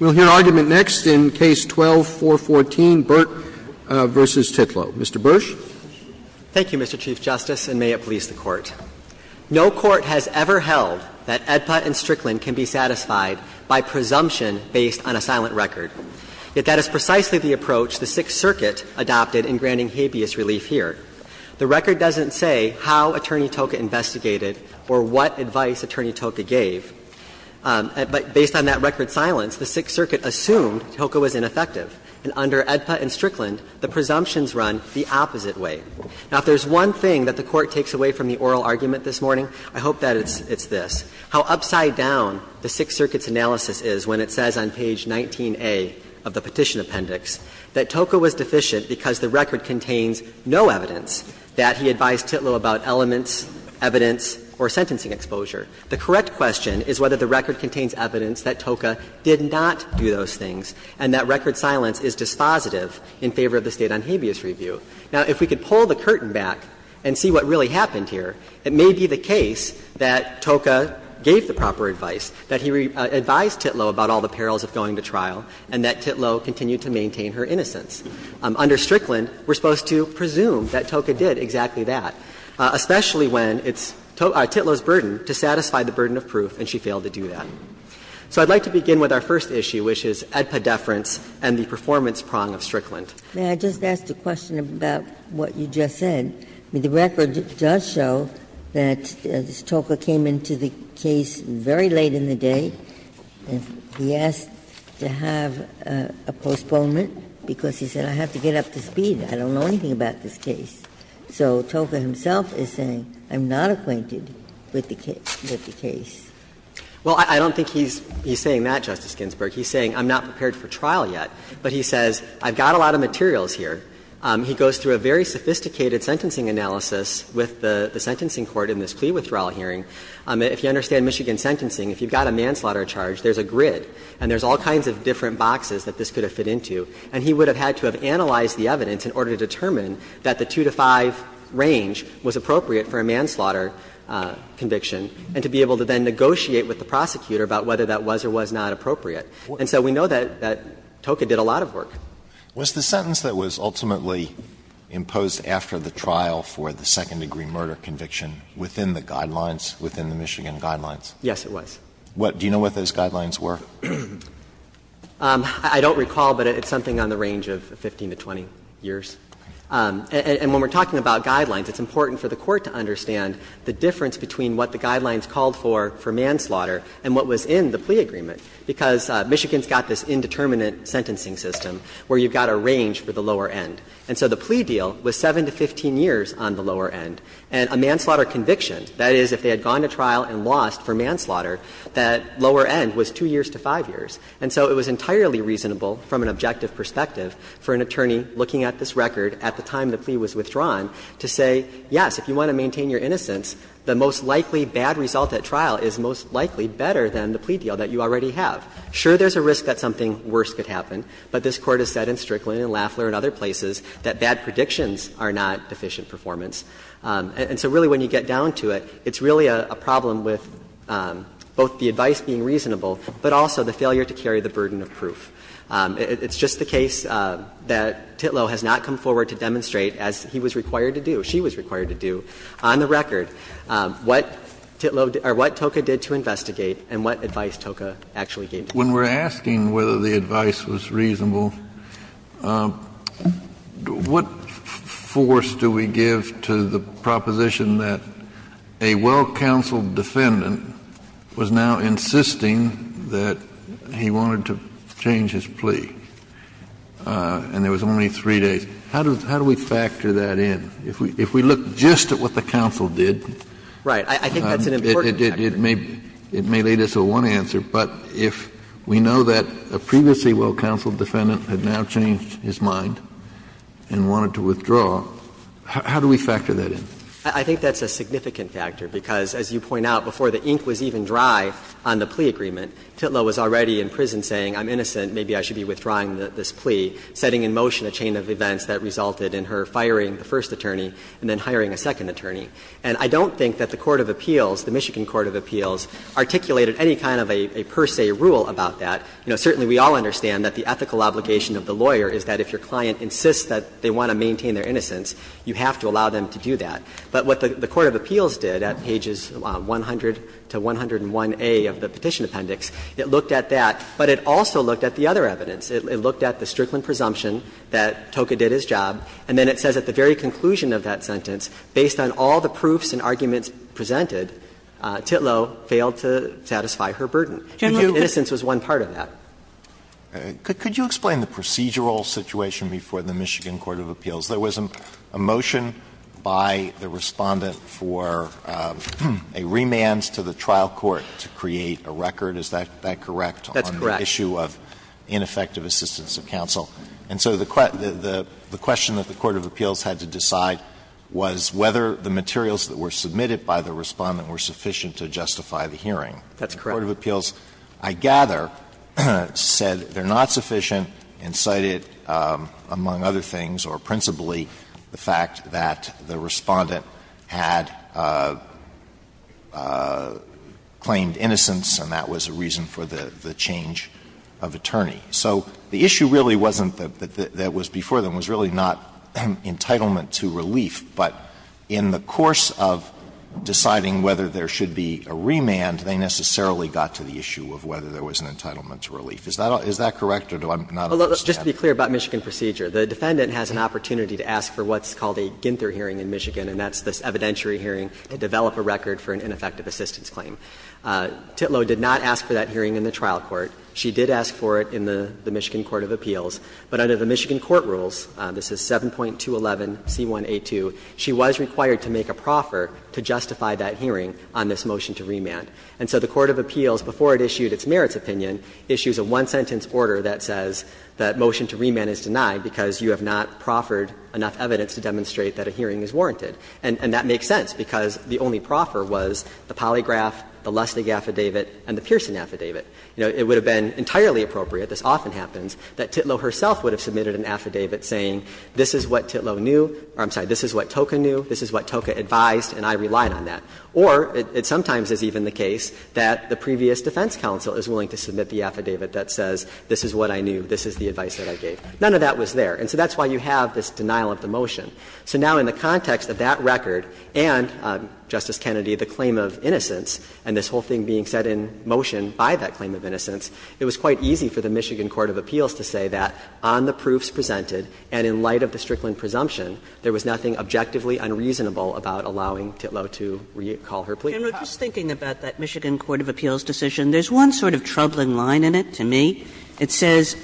We'll hear argument next in Case 12-414, Burt v. Titlow. Mr. Bursch. Thank you, Mr. Chief Justice, and may it please the Court. No Court has ever held that AEDPA and Strickland can be satisfied by presumption based on a silent record. Yet that is precisely the approach the Sixth Circuit adopted in granting habeas relief here. The record doesn't say how Attorney Toca investigated or what advice Attorney Toca gave. Based on that record silence, the Sixth Circuit assumed Toca was ineffective. And under AEDPA and Strickland, the presumptions run the opposite way. Now, if there's one thing that the Court takes away from the oral argument this morning, I hope that it's this, how upside down the Sixth Circuit's analysis is when it says on page 19A of the petition appendix that Toca was deficient because the record contains no evidence that he advised Titlow about elements, evidence, or sentencing exposure. The correct question is whether the record contains evidence that Toca did not do those things and that record silence is dispositive in favor of the State on Habeas Review. Now, if we could pull the curtain back and see what really happened here, it may be the case that Toca gave the proper advice, that he advised Titlow about all the perils of going to trial, and that Titlow continued to maintain her innocence. Under Strickland, we're supposed to presume that Toca did exactly that, especially when it's Titlow's burden to satisfy the burden of proof, and she failed to do that. So I'd like to begin with our first issue, which is Edpa deference and the performance Ginsburg-McGillivray-Miller May I just ask a question about what you just said? I mean, the record does show that Toca came into the case very late in the day. He asked to have a postponement because he said, I have to get up to speed. I don't know anything about this case. So Toca himself is saying, I'm not acquainted with the case. Well, I don't think he's saying that, Justice Ginsburg. He's saying, I'm not prepared for trial yet. But he says, I've got a lot of materials here. He goes through a very sophisticated sentencing analysis with the sentencing court in this plea withdrawal hearing. If you understand Michigan sentencing, if you've got a manslaughter charge, there's a grid and there's all kinds of different boxes that this could have fit into, and he would have had to have analyzed the evidence in order to determine that the 2-5 range was appropriate for a manslaughter conviction, and to be able to then negotiate with the prosecutor about whether that was or was not appropriate. And so we know that Toca did a lot of work. Was the sentence that was ultimately imposed after the trial for the second-degree murder conviction within the guidelines, within the Michigan guidelines? Yes, it was. Do you know what those guidelines were? I don't recall, but it's something on the range of 15 to 20 years. And when we're talking about guidelines, it's important for the Court to understand the difference between what the guidelines called for for manslaughter and what was in the plea agreement, because Michigan's got this indeterminate sentencing system where you've got a range for the lower end. And so the plea deal was 7 to 15 years on the lower end, and a manslaughter conviction, that is, if they had gone to trial and lost for manslaughter, that lower end was 2 years to 5 years. And so it was entirely reasonable, from an objective perspective, for an attorney looking at this record at the time the plea was withdrawn to say, yes, if you want to maintain your innocence, the most likely bad result at trial is most likely better than the plea deal that you already have. Sure, there's a risk that something worse could happen, but this Court has said in Strickland and Lafler and other places that bad predictions are not deficient performance. And so really when you get down to it, it's really a problem with both the advice being reasonable, but also the failure to carry the burden of proof. It's just the case that Titlow has not come forward to demonstrate, as he was required to do, she was required to do, on the record, what Titlow did or what Toca did to investigate and what advice Toca actually gave. Kennedy, when we're asking whether the advice was reasonable, what force do we give to the proposition that a well-counseled defendant was now insisting that he wanted to change his plea, and there was only three days, how do we factor that in? If we look just at what the counsel did, it may lead us to one answer, but if we know that a previously well-counseled defendant had now changed his mind and wanted to withdraw, how do we factor that in? I think that's a significant factor, because as you point out, before the ink was even dry on the plea agreement, Titlow was already in prison saying, I'm innocent, maybe I should be withdrawing this plea, setting in motion a chain of events that resulted in her firing the first attorney and then hiring a second attorney. And I don't think that the court of appeals, the Michigan court of appeals, articulated any kind of a per se rule about that. You know, certainly we all understand that the ethical obligation of the lawyer is that if your client insists that they want to maintain their innocence, you have to allow them to do that. But what the court of appeals did at pages 100 to 101A of the Petition Appendix, it looked at that, but it also looked at the other evidence. It looked at the Strickland presumption that Toka did his job, and then it says at the very conclusion of that sentence, based on all the proofs and arguments presented, Titlow failed to satisfy her burden. Innocence was one part of that. Alito, could you explain the procedural situation before the Michigan court of appeals? There was a motion by the Respondent for a remand to the trial court to create a record, is that correct, on the issue of ineffective assistance of counsel? And so the question that the court of appeals had to decide was whether the materials that were submitted by the Respondent were sufficient to justify the hearing. That's correct. The court of appeals, I gather, said they're not sufficient and cited, among other things or principally, the fact that the Respondent had claimed innocence and that was a reason for the change of attorney. So the issue really wasn't that was before them, was really not entitlement to relief. But in the course of deciding whether there should be a remand, they necessarily got to the issue of whether there was an entitlement to relief. Is that correct or do I'm not aware of this? Just to be clear about Michigan procedure, the Defendant has an opportunity to ask for what's called a Ginther hearing in Michigan, and that's this evidentiary hearing to develop a record for an ineffective assistance claim. Titlow did not ask for that hearing in the trial court. She did ask for it in the Michigan court of appeals. But under the Michigan court rules, this is 7.211C1A2, she was required to make a proffer to justify that hearing on this motion to remand. And so the court of appeals, before it issued its merits opinion, issues a one-sentence order that says that motion to remand is denied because you have not proffered enough evidence to demonstrate that a hearing is warranted. And that makes sense because the only proffer was the polygraph, the Lustig affidavit, and the Pearson affidavit. You know, it would have been entirely appropriate, this often happens, that Titlow herself would have submitted an affidavit saying this is what Titlow knew, or I'm sorry, this is what Toca knew, this is what Toca advised, and I relied on that. Or it sometimes is even the case that the previous defense counsel is willing to submit the affidavit that says this is what I knew, this is the advice that I gave. None of that was there. And so that's why you have this denial of the motion. So now in the context of that record and, Justice Kennedy, the claim of innocence and this whole thing being set in motion by that claim of innocence, it was quite of appeals to say that on the proofs presented and in light of the Strickland presumption, there was nothing objectively unreasonable about allowing Titlow to call her plea. Kaganer just thinking about that Michigan court of appeals decision, there's one sort of troubling line in it to me. It says,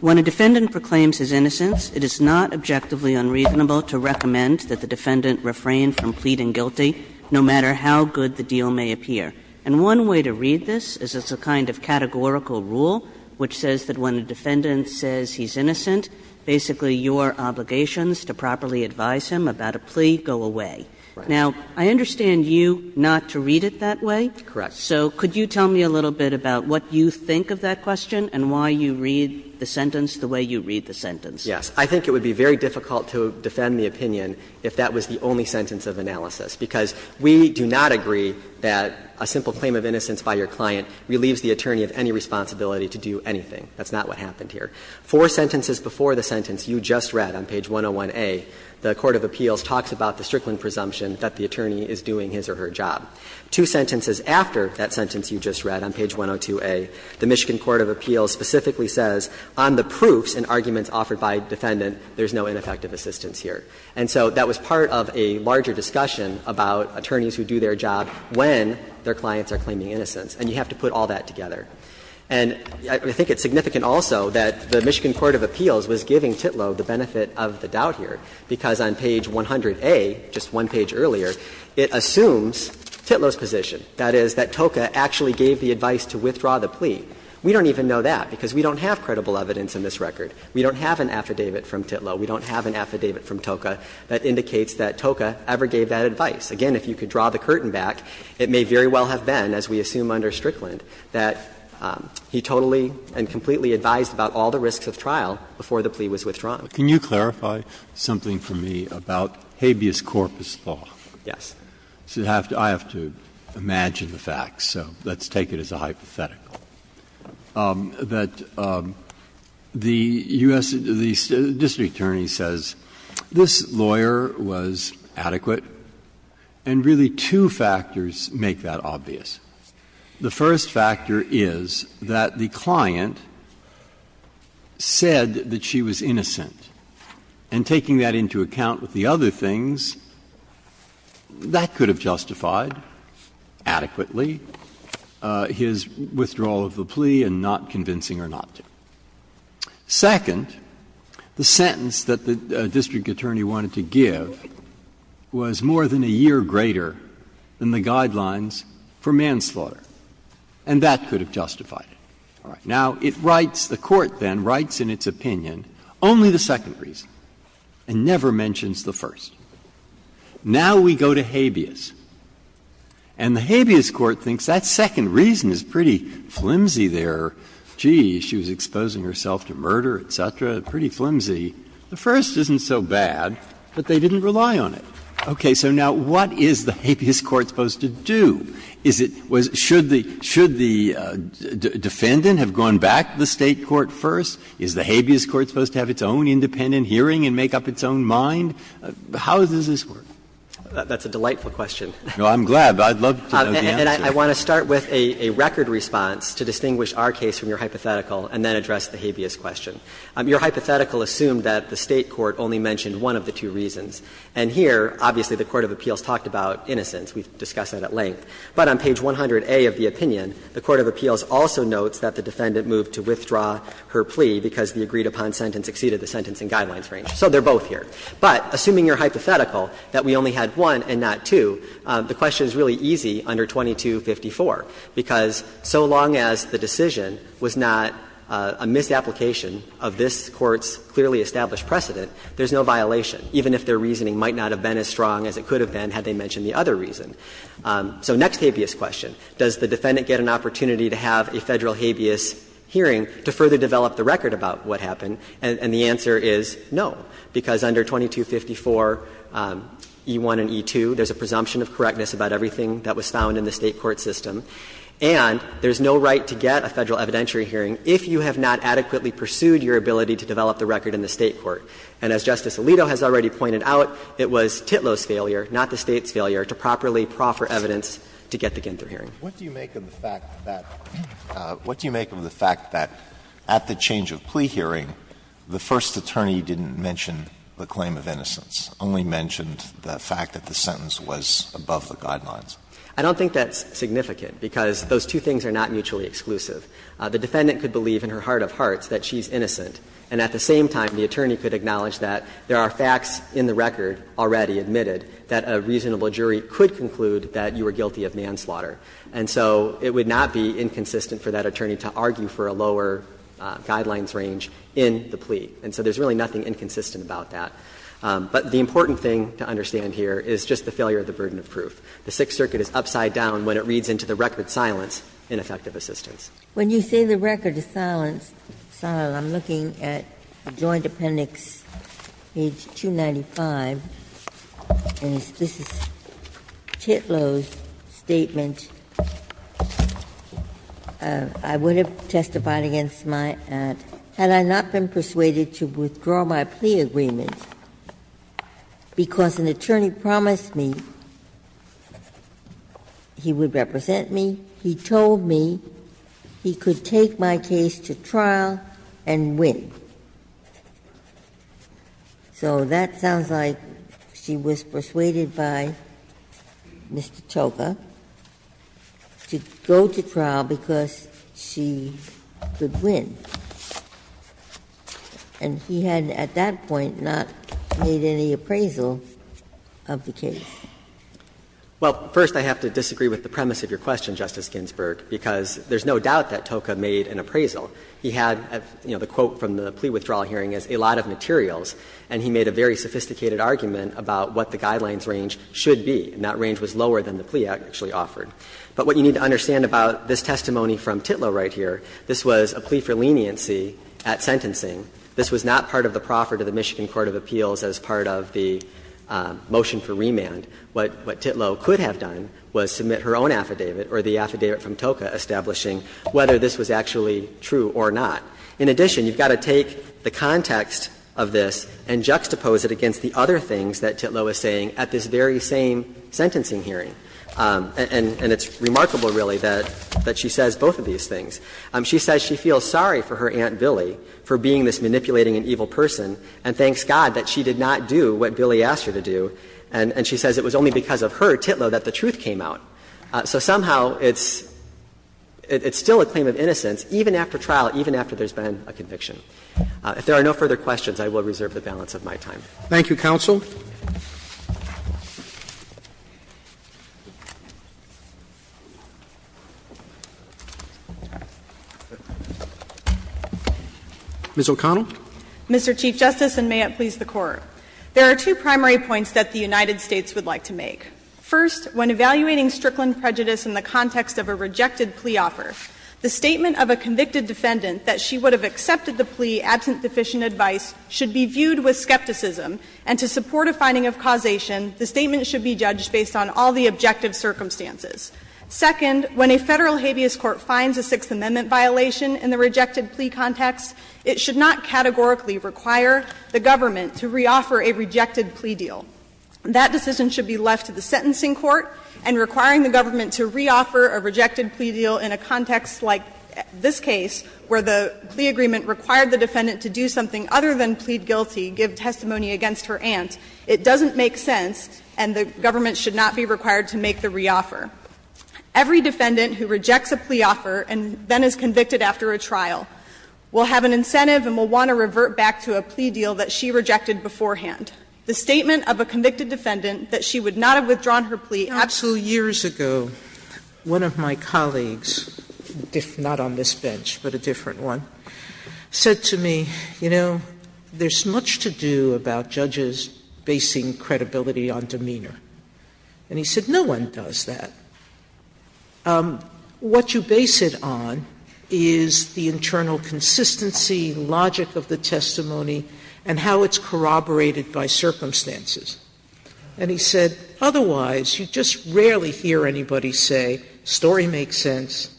When a defendant proclaims his innocence, it is not objectively unreasonable to recommend that the defendant refrain from pleading guilty, no matter how good the deal may appear. And one way to read this is as a kind of categorical rule, which says that when a defendant says he's innocent, basically your obligations to properly advise him about a plea go away. Now, I understand you not to read it that way. So could you tell me a little bit about what you think of that question and why you read the sentence the way you read the sentence? Yes. I think it would be very difficult to defend the opinion if that was the only sentence of analysis, because we do not agree that a simple claim of innocence by your client relieves the attorney of any responsibility to do anything. That's not what happened here. Four sentences before the sentence you just read on page 101A, the court of appeals talks about the Strickland presumption that the attorney is doing his or her job. Two sentences after that sentence you just read on page 102A, the Michigan court of appeals specifically says on the proofs and arguments offered by a defendant, there's no ineffective assistance here. And so that was part of a larger discussion about attorneys who do their job when their clients are claiming innocence, and you have to put all that together. And I think it's significant also that the Michigan court of appeals was giving Titlow the benefit of the doubt here, because on page 100A, just one page earlier, it assumes Titlow's position, that is, that TOCA actually gave the advice to withdraw the plea. We don't even know that, because we don't have credible evidence in this record. We don't have an affidavit from Titlow. We don't have an affidavit from TOCA that indicates that TOCA ever gave that advice. Again, if you could draw the curtain back, it may very well have been, as we assume under Strickland, that he totally and completely advised about all the risks of trial before the plea was withdrawn. Breyer. Can you clarify something for me about habeas corpus law? Yes. I have to imagine the facts, so let's take it as a hypothetical. That the U.S. district attorney says, this lawyer was adequate, and really two factors make that obvious. The first factor is that the client said that she was innocent, and taking that into account with the other things, that could have justified adequately his withdrawal of the plea and not convincing her not to. Second, the sentence that the district attorney wanted to give was more than a year greater than the guidelines for manslaughter, and that could have justified it. Now, it writes, the Court then writes in its opinion only the second reason, and never mentions the first. Now we go to habeas, and the habeas court thinks that second reason is pretty flimsy there. Gee, she was exposing herself to murder, et cetera, pretty flimsy. The first isn't so bad, but they didn't rely on it. Okay. So now what is the habeas court supposed to do? Is it was the defendant have gone back to the State court first? Is the habeas court supposed to have its own independent hearing and make up its own mind? How does this work? That's a delightful question. No, I'm glad. I'd love to know the answer. And I want to start with a record response to distinguish our case from your hypothetical and then address the habeas question. Your hypothetical assumed that the State court only mentioned one of the two reasons. And here, obviously, the court of appeals talked about innocence. We've discussed that at length. But on page 100A of the opinion, the court of appeals also notes that the defendant moved to withdraw her plea because the agreed-upon sentence exceeded the sentencing guidelines range. So they're both here. But assuming your hypothetical, that we only had one and not two, the question is really easy under 2254, because so long as the decision was not a misapplication of this Court's clearly established precedent, there's no violation, even if their reasoning might not have been as strong as it could have been had they mentioned the other reason. So next habeas question, does the defendant get an opportunity to have a Federal habeas hearing to further develop the record about what happened? And the answer is no, because under 2254e1 and e2, there's a presumption of correctness about everything that was found in the State court system. And there's no right to get a Federal evidentiary hearing if you have not adequately pursued your ability to develop the record in the State court. And as Justice Alito has already pointed out, it was Titlow's failure, not the State's failure, to properly proffer evidence to get the Ginther hearing. Alito, what do you make of the fact that at the change of plea hearing, the first attorney didn't mention the claim of innocence, only mentioned the fact that the sentence was above the guidelines? I don't think that's significant, because those two things are not mutually exclusive. The defendant could believe in her heart of hearts that she's innocent, and at the same time, the attorney could acknowledge that there are facts in the record already admitted that a reasonable jury could conclude that you were guilty of manslaughter. And so it would not be inconsistent for that attorney to argue for a lower guidelines range in the plea. And so there's really nothing inconsistent about that. But the important thing to understand here is just the failure of the burden of proof. The Sixth Circuit is upside down when it reads into the record silence, ineffective assistance. Ginsburg. When you say the record is silence, I'm looking at the Joint Appendix, page 295, and this is Titlow's statement. I would have testified against my aunt had I not been persuaded to withdraw my plea agreement, because an attorney promised me he would represent me. He told me he could take my case to trial and win. So that sounds like she was persuaded by Mr. Toka to go to trial because she would win. And he had at that point not made any appraisal of the case. Well, first, I have to disagree with the premise of your question, Justice Ginsburg, because there's no doubt that Toka made an appraisal. He had, you know, the quote from the plea withdrawal hearing is, a lot of materials. And he made a very sophisticated argument about what the guidelines range should be, and that range was lower than the plea actually offered. But what you need to understand about this testimony from Titlow right here, this was a plea for leniency at sentencing. This was not part of the proffer to the Michigan Court of Appeals as part of the motion for remand. What Titlow could have done was submit her own affidavit or the affidavit from Toka establishing whether this was actually true or not. In addition, you've got to take the context of this and juxtapose it against the other things that Titlow is saying at this very same sentencing hearing. And it's remarkable, really, that she says both of these things. She says she feels sorry for her Aunt Billy for being this manipulating and evil person, and thanks God that she did not do what Billy asked her to do. And she says it was only because of her, Titlow, that the truth came out. So somehow it's still a claim of innocence, even after trial, even after there's been a conviction. If there are no further questions, I will reserve the balance of my time. Roberts. Thank you, counsel. Ms. O'Connell. Mr. Chief Justice, and may it please the Court. There are two primary points that the United States would like to make. First, when evaluating Strickland prejudice in the context of a rejected plea offer, the statement of a convicted defendant that she would have accepted the plea, absent deficient advice, should be viewed with skepticism, and to support a finding of causation, the statement should be judged based on all the objective circumstances. Second, when a Federal habeas court finds a Sixth Amendment violation in the rejected plea context, it should not categorically require the government to reoffer a rejected plea deal. That decision should be left to the sentencing court, and requiring the government to reoffer a rejected plea deal in a context like this case, where the plea agreement required the defendant to do something other than plead guilty, give testimony against her aunt, it doesn't make sense, and the government should not be required to make the reoffer. Every defendant who rejects a plea offer and then is convicted after a trial will have an incentive and will want to revert back to a plea deal that she rejected beforehand. The statement of a convicted defendant that she would not have withdrawn her plea absent. Sotomayor, years ago, one of my colleagues, not on this bench, but a different one, said to me, you know, there's much to do about judges basing credibility on demeanor. And he said, no one does that. What you base it on is the internal consistency, logic of the testimony, and how it's corroborated by circumstances. And he said, otherwise, you just rarely hear anybody say, story makes sense,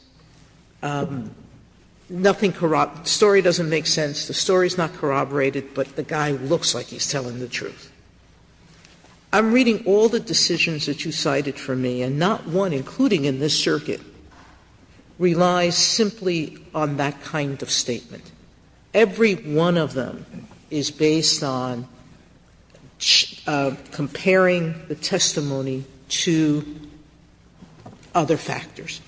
nothing corrupts, story doesn't make sense, the story's not corroborated, but the guy looks like he's telling the truth. I'm reading all the decisions that you cited for me, and not one, including Every one of them is based on comparing the testimony to other factors,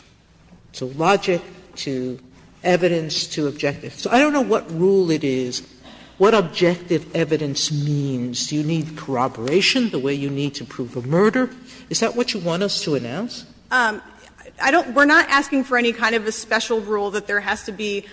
to logic, to evidence, to objective. So I don't know what rule it is, what objective evidence means. Do you need corroboration the way you need to prove a murder? Is that what you want us to announce? We're not asking for any kind of a special rule that there has to be,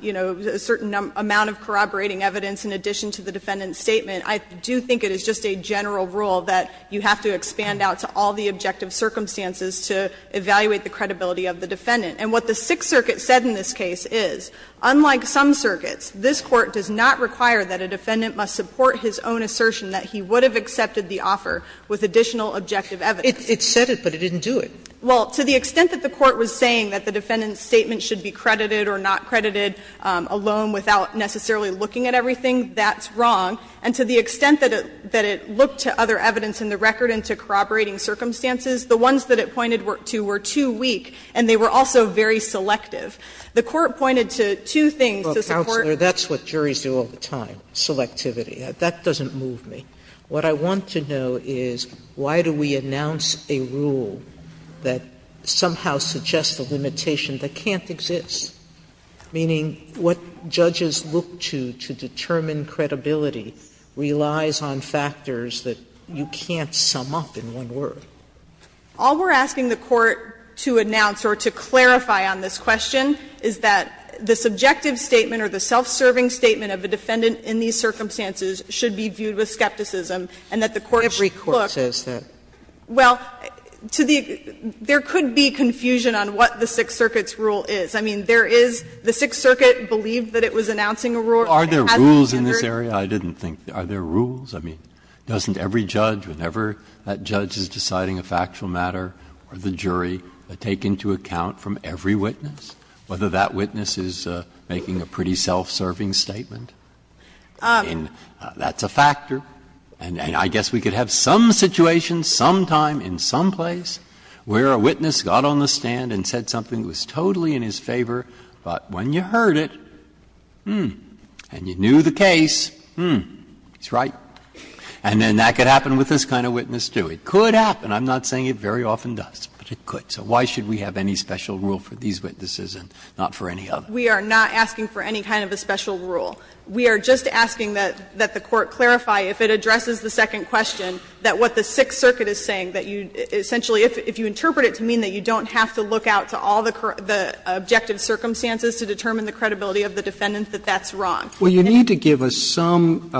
you know, a certain amount of corroborating evidence in addition to the defendant's statement. I do think it is just a general rule that you have to expand out to all the objective circumstances to evaluate the credibility of the defendant. And what the Sixth Circuit said in this case is, unlike some circuits, this Court does not require that a defendant must support his own assertion that he would have accepted the offer with additional objective evidence. It said it, but it didn't do it. Well, to the extent that the Court was saying that the defendant's statement should be credited or not credited alone without necessarily looking at everything, that's wrong. And to the extent that it looked to other evidence in the record and to corroborating circumstances, the ones that it pointed to were too weak, and they were also very selective. The Court pointed to two things to support. Sotomayor, that's what juries do all the time, selectivity. That doesn't move me. What I want to know is, why do we announce a rule that somehow suggests a limitation that can't exist, meaning what judges look to to determine credibility relies on factors that you can't sum up in one word? All we're asking the Court to announce or to clarify on this question is that the subjective statement or the self-serving statement of a defendant in these circumstances should be viewed with skepticism, and that the Court should look to the other evidence in the record. Sotomayor, that's what juries do all the time, selectivity. Why do we announce a rule that somehow suggests a limitation that can't exist, meaning what judges look to to determine credibility relies on factors that you can't sum up in one word? All we're asking the Court to announce is that the subjective statement or the self-serving statement of a defendant in these circumstances should be viewed with skepticism That's a factor. And I guess we could have some situation, sometime, in some place, where a witness got on the stand and said something that was totally in his favor, but when you heard it, hmm, and you knew the case, hmm, he's right. And then that could happen with this kind of witness, too. It could happen. I'm not saying it very often does, but it could. So why should we have any special rule for these witnesses and not for any other? We are not asking for any kind of a special rule. We are just asking that the Court clarify, if it addresses the second question, that what the Sixth Circuit is saying, that you essentially, if you interpret it to mean that you don't have to look out to all the objective circumstances to determine the credibility of the defendant, that that's wrong. Roberts, Well, you need to give us some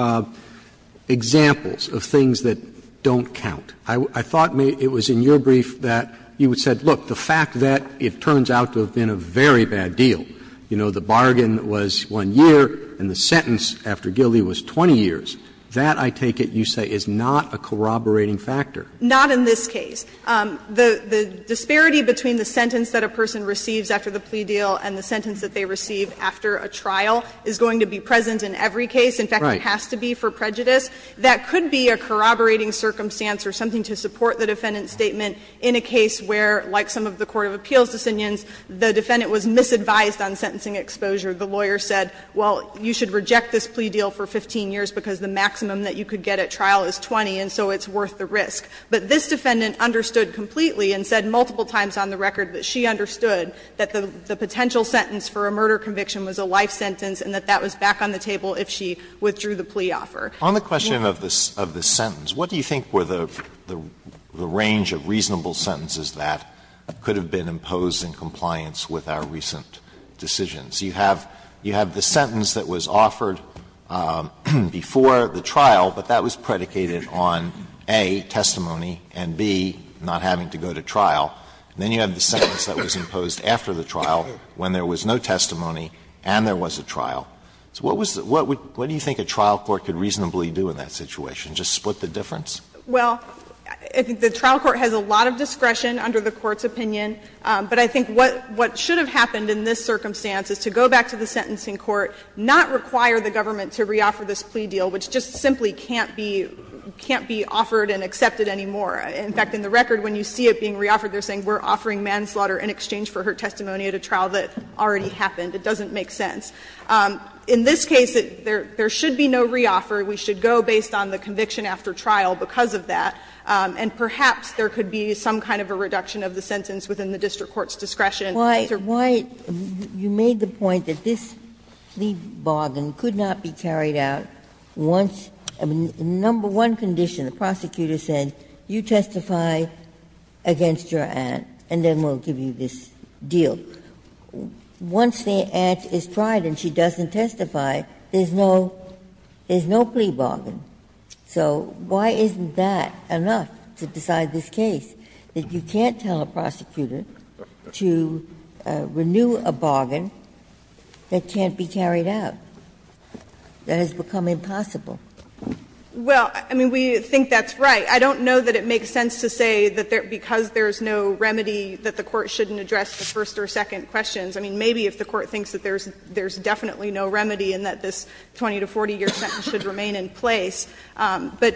examples of things that don't count. I thought it was in your brief that you said, look, the fact that it turns out to have been a very bad deal. You know, the bargain was 1 year, and the sentence after Gildee was 20 years. That, I take it, you say is not a corroborating factor. O'Connell Not in this case. The disparity between the sentence that a person receives after the plea deal and the sentence that they receive after a trial is going to be present in every case. In fact, it has to be for prejudice. That could be a corroborating circumstance or something to support the defendant's statement in a case where, like some of the court of appeals' decisions, the defendant was misadvised on sentencing exposure. The lawyer said, well, you should reject this plea deal for 15 years because the maximum that you could get at trial is 20, and so it's worth the risk. But this defendant understood completely and said multiple times on the record that she understood that the potential sentence for a murder conviction was a life sentence and that that was back on the table if she withdrew the plea offer. Alito On the question of the sentence, what do you think were the range of reasonable sentences that could have been imposed in compliance with our recent decisions? You have the sentence that was offered before the trial, but that was predicated on, A, testimony, and, B, not having to go to trial. Then you have the sentence that was imposed after the trial when there was no testimony and there was a trial. What do you think a trial court could reasonably do in that situation, just split the difference? O'Connell Well, I think the trial court has a lot of discretion under the Court's opinion. But I think what should have happened in this circumstance is to go back to the sentencing court, not require the government to reoffer this plea deal, which just simply can't be offered and accepted anymore. In fact, in the record, when you see it being reoffered, they're saying we're offering manslaughter in exchange for her testimony at a trial that already happened. It doesn't make sense. In this case, there should be no reoffer. We should go based on the conviction after trial because of that. And perhaps there could be some kind of a reduction of the sentence within the district court's discretion. Ginsburg Why you made the point that this plea bargain could not be carried out once the number one condition, the prosecutor said, you testify against your aunt and then we'll give you this deal. Once the aunt is tried and she doesn't testify, there's no plea bargain. So why isn't that enough to decide this case, that you can't tell a prosecutor to renew a bargain that can't be carried out, that has become impossible? O'Connell Well, I mean, we think that's right. I don't know that it makes sense to say that because there's no remedy that the Court shouldn't address the first or second questions. I mean, maybe if the Court thinks that there's definitely no remedy and that this 20-to-40-year sentence should remain in place, but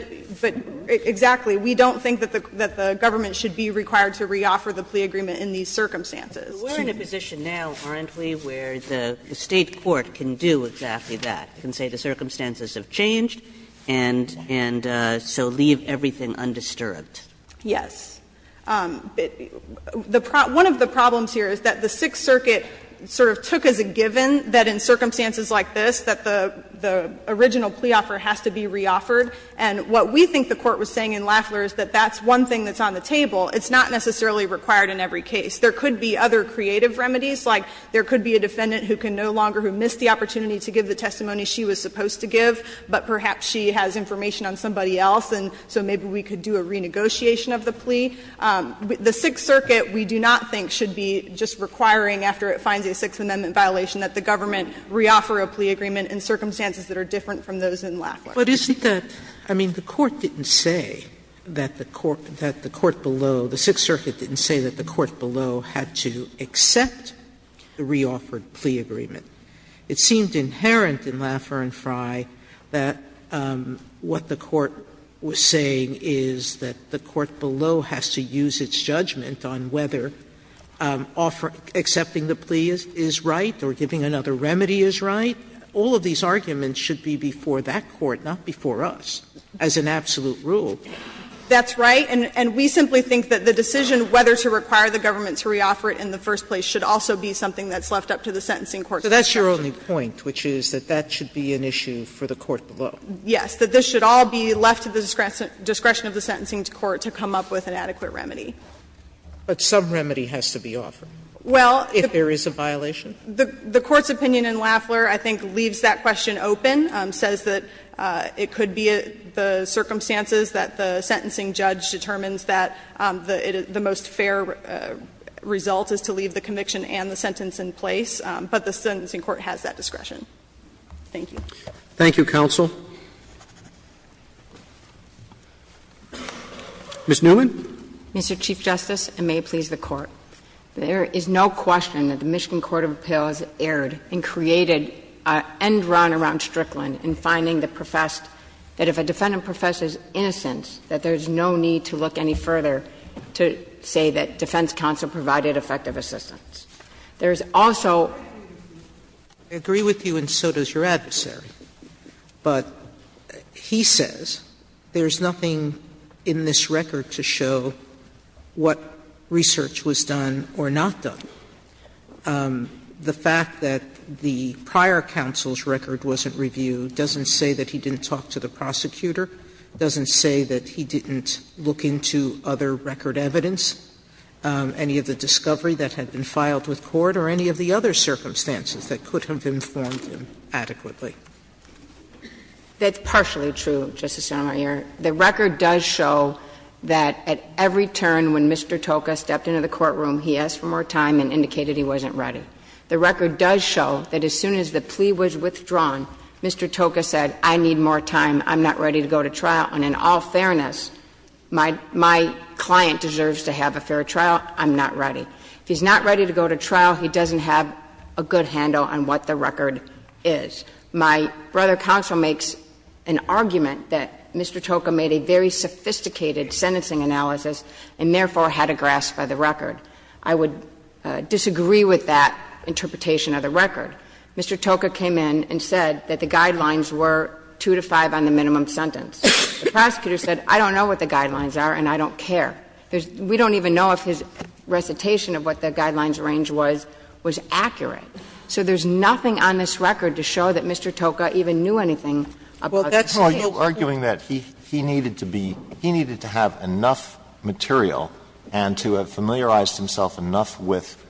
exactly. We don't think that the government should be required to reoffer the plea agreement in these circumstances. Kagan We're in a position now, aren't we, where the State court can do exactly that, can say the circumstances have changed and so leave everything undisturbed. O'Connell Yes. One of the problems here is that the Sixth Circuit sort of took as a given that in circumstances like this that the original plea offer has to be reoffered. And what we think the Court was saying in Lafler is that that's one thing that's on the table. It's not necessarily required in every case. There could be other creative remedies, like there could be a defendant who can no longer, who missed the opportunity to give the testimony she was supposed to give, but perhaps she has information on somebody else, and so maybe we could do a renegotiation of the plea. The Sixth Circuit, we do not think, should be just requiring, after it finds a Sixth Amendment violation, that the government reoffer a plea agreement in circumstances that are different from those in Lafler. Sotomayor But isn't the – I mean, the Court didn't say that the court below, the Sixth Circuit didn't say that the court below had to accept the reoffered plea agreement. It seemed inherent in Lafler and Frey that what the court was saying is that the court below has to use its judgment on whether accepting the plea is right or giving another remedy is right. All of these arguments should be before that court, not before us, as an absolute rule. That's right. And we simply think that the decision whether to require the government to reoffer it in the first place should also be something that's left up to the sentencing court to decide. Sotomayor So that's your only point, which is that that should be an issue for the court below. Yes. That this should all be left to the discretion of the sentencing court to come up with an adequate remedy. Sotomayor But some remedy has to be offered if there is a violation. The Court's opinion in Lafler, I think, leaves that question open, says that it could be the circumstances that the sentencing judge determines that the most fair result is to leave the conviction and the sentence in place, but the sentencing court has that discretion. Thank you. Roberts Ms. Newman. Ms. Newman Mr. Chief Justice, and may it please the Court, there is no question that the Michigan court of appeals erred and created an end run around Strickland in finding the professed that if a defendant professes innocence, that there is no need to look any further to say that defense counsel provided effective assistance. He says there is nothing in this record to show what research was done or not done. The fact that the prior counsel's record wasn't reviewed doesn't say that he didn't talk to the prosecutor, doesn't say that he didn't look into other record evidence, any of the discovery that had been filed with court, or any of the other circumstances that could have informed him adequately. That's partially true, Justice Sotomayor. The record does show that at every turn when Mr. Toka stepped into the courtroom, he asked for more time and indicated he wasn't ready. The record does show that as soon as the plea was withdrawn, Mr. Toka said, I need more time, I'm not ready to go to trial, and in all fairness, my client deserves to have a fair trial, I'm not ready. If he's not ready to go to trial, he doesn't have a good handle on what the record is. My brother counsel makes an argument that Mr. Toka made a very sophisticated sentencing analysis and therefore had a grasp of the record. I would disagree with that interpretation of the record. Mr. Toka came in and said that the guidelines were 2 to 5 on the minimum sentence. The prosecutor said, I don't know what the guidelines are and I don't care. We don't even know if his recitation of what the guidelines range was was accurate. So there's nothing on this record to show that Mr. Toka even knew anything about the recitation. Alito, are you arguing that he needed to be he needed to have enough material and to have familiarized himself enough with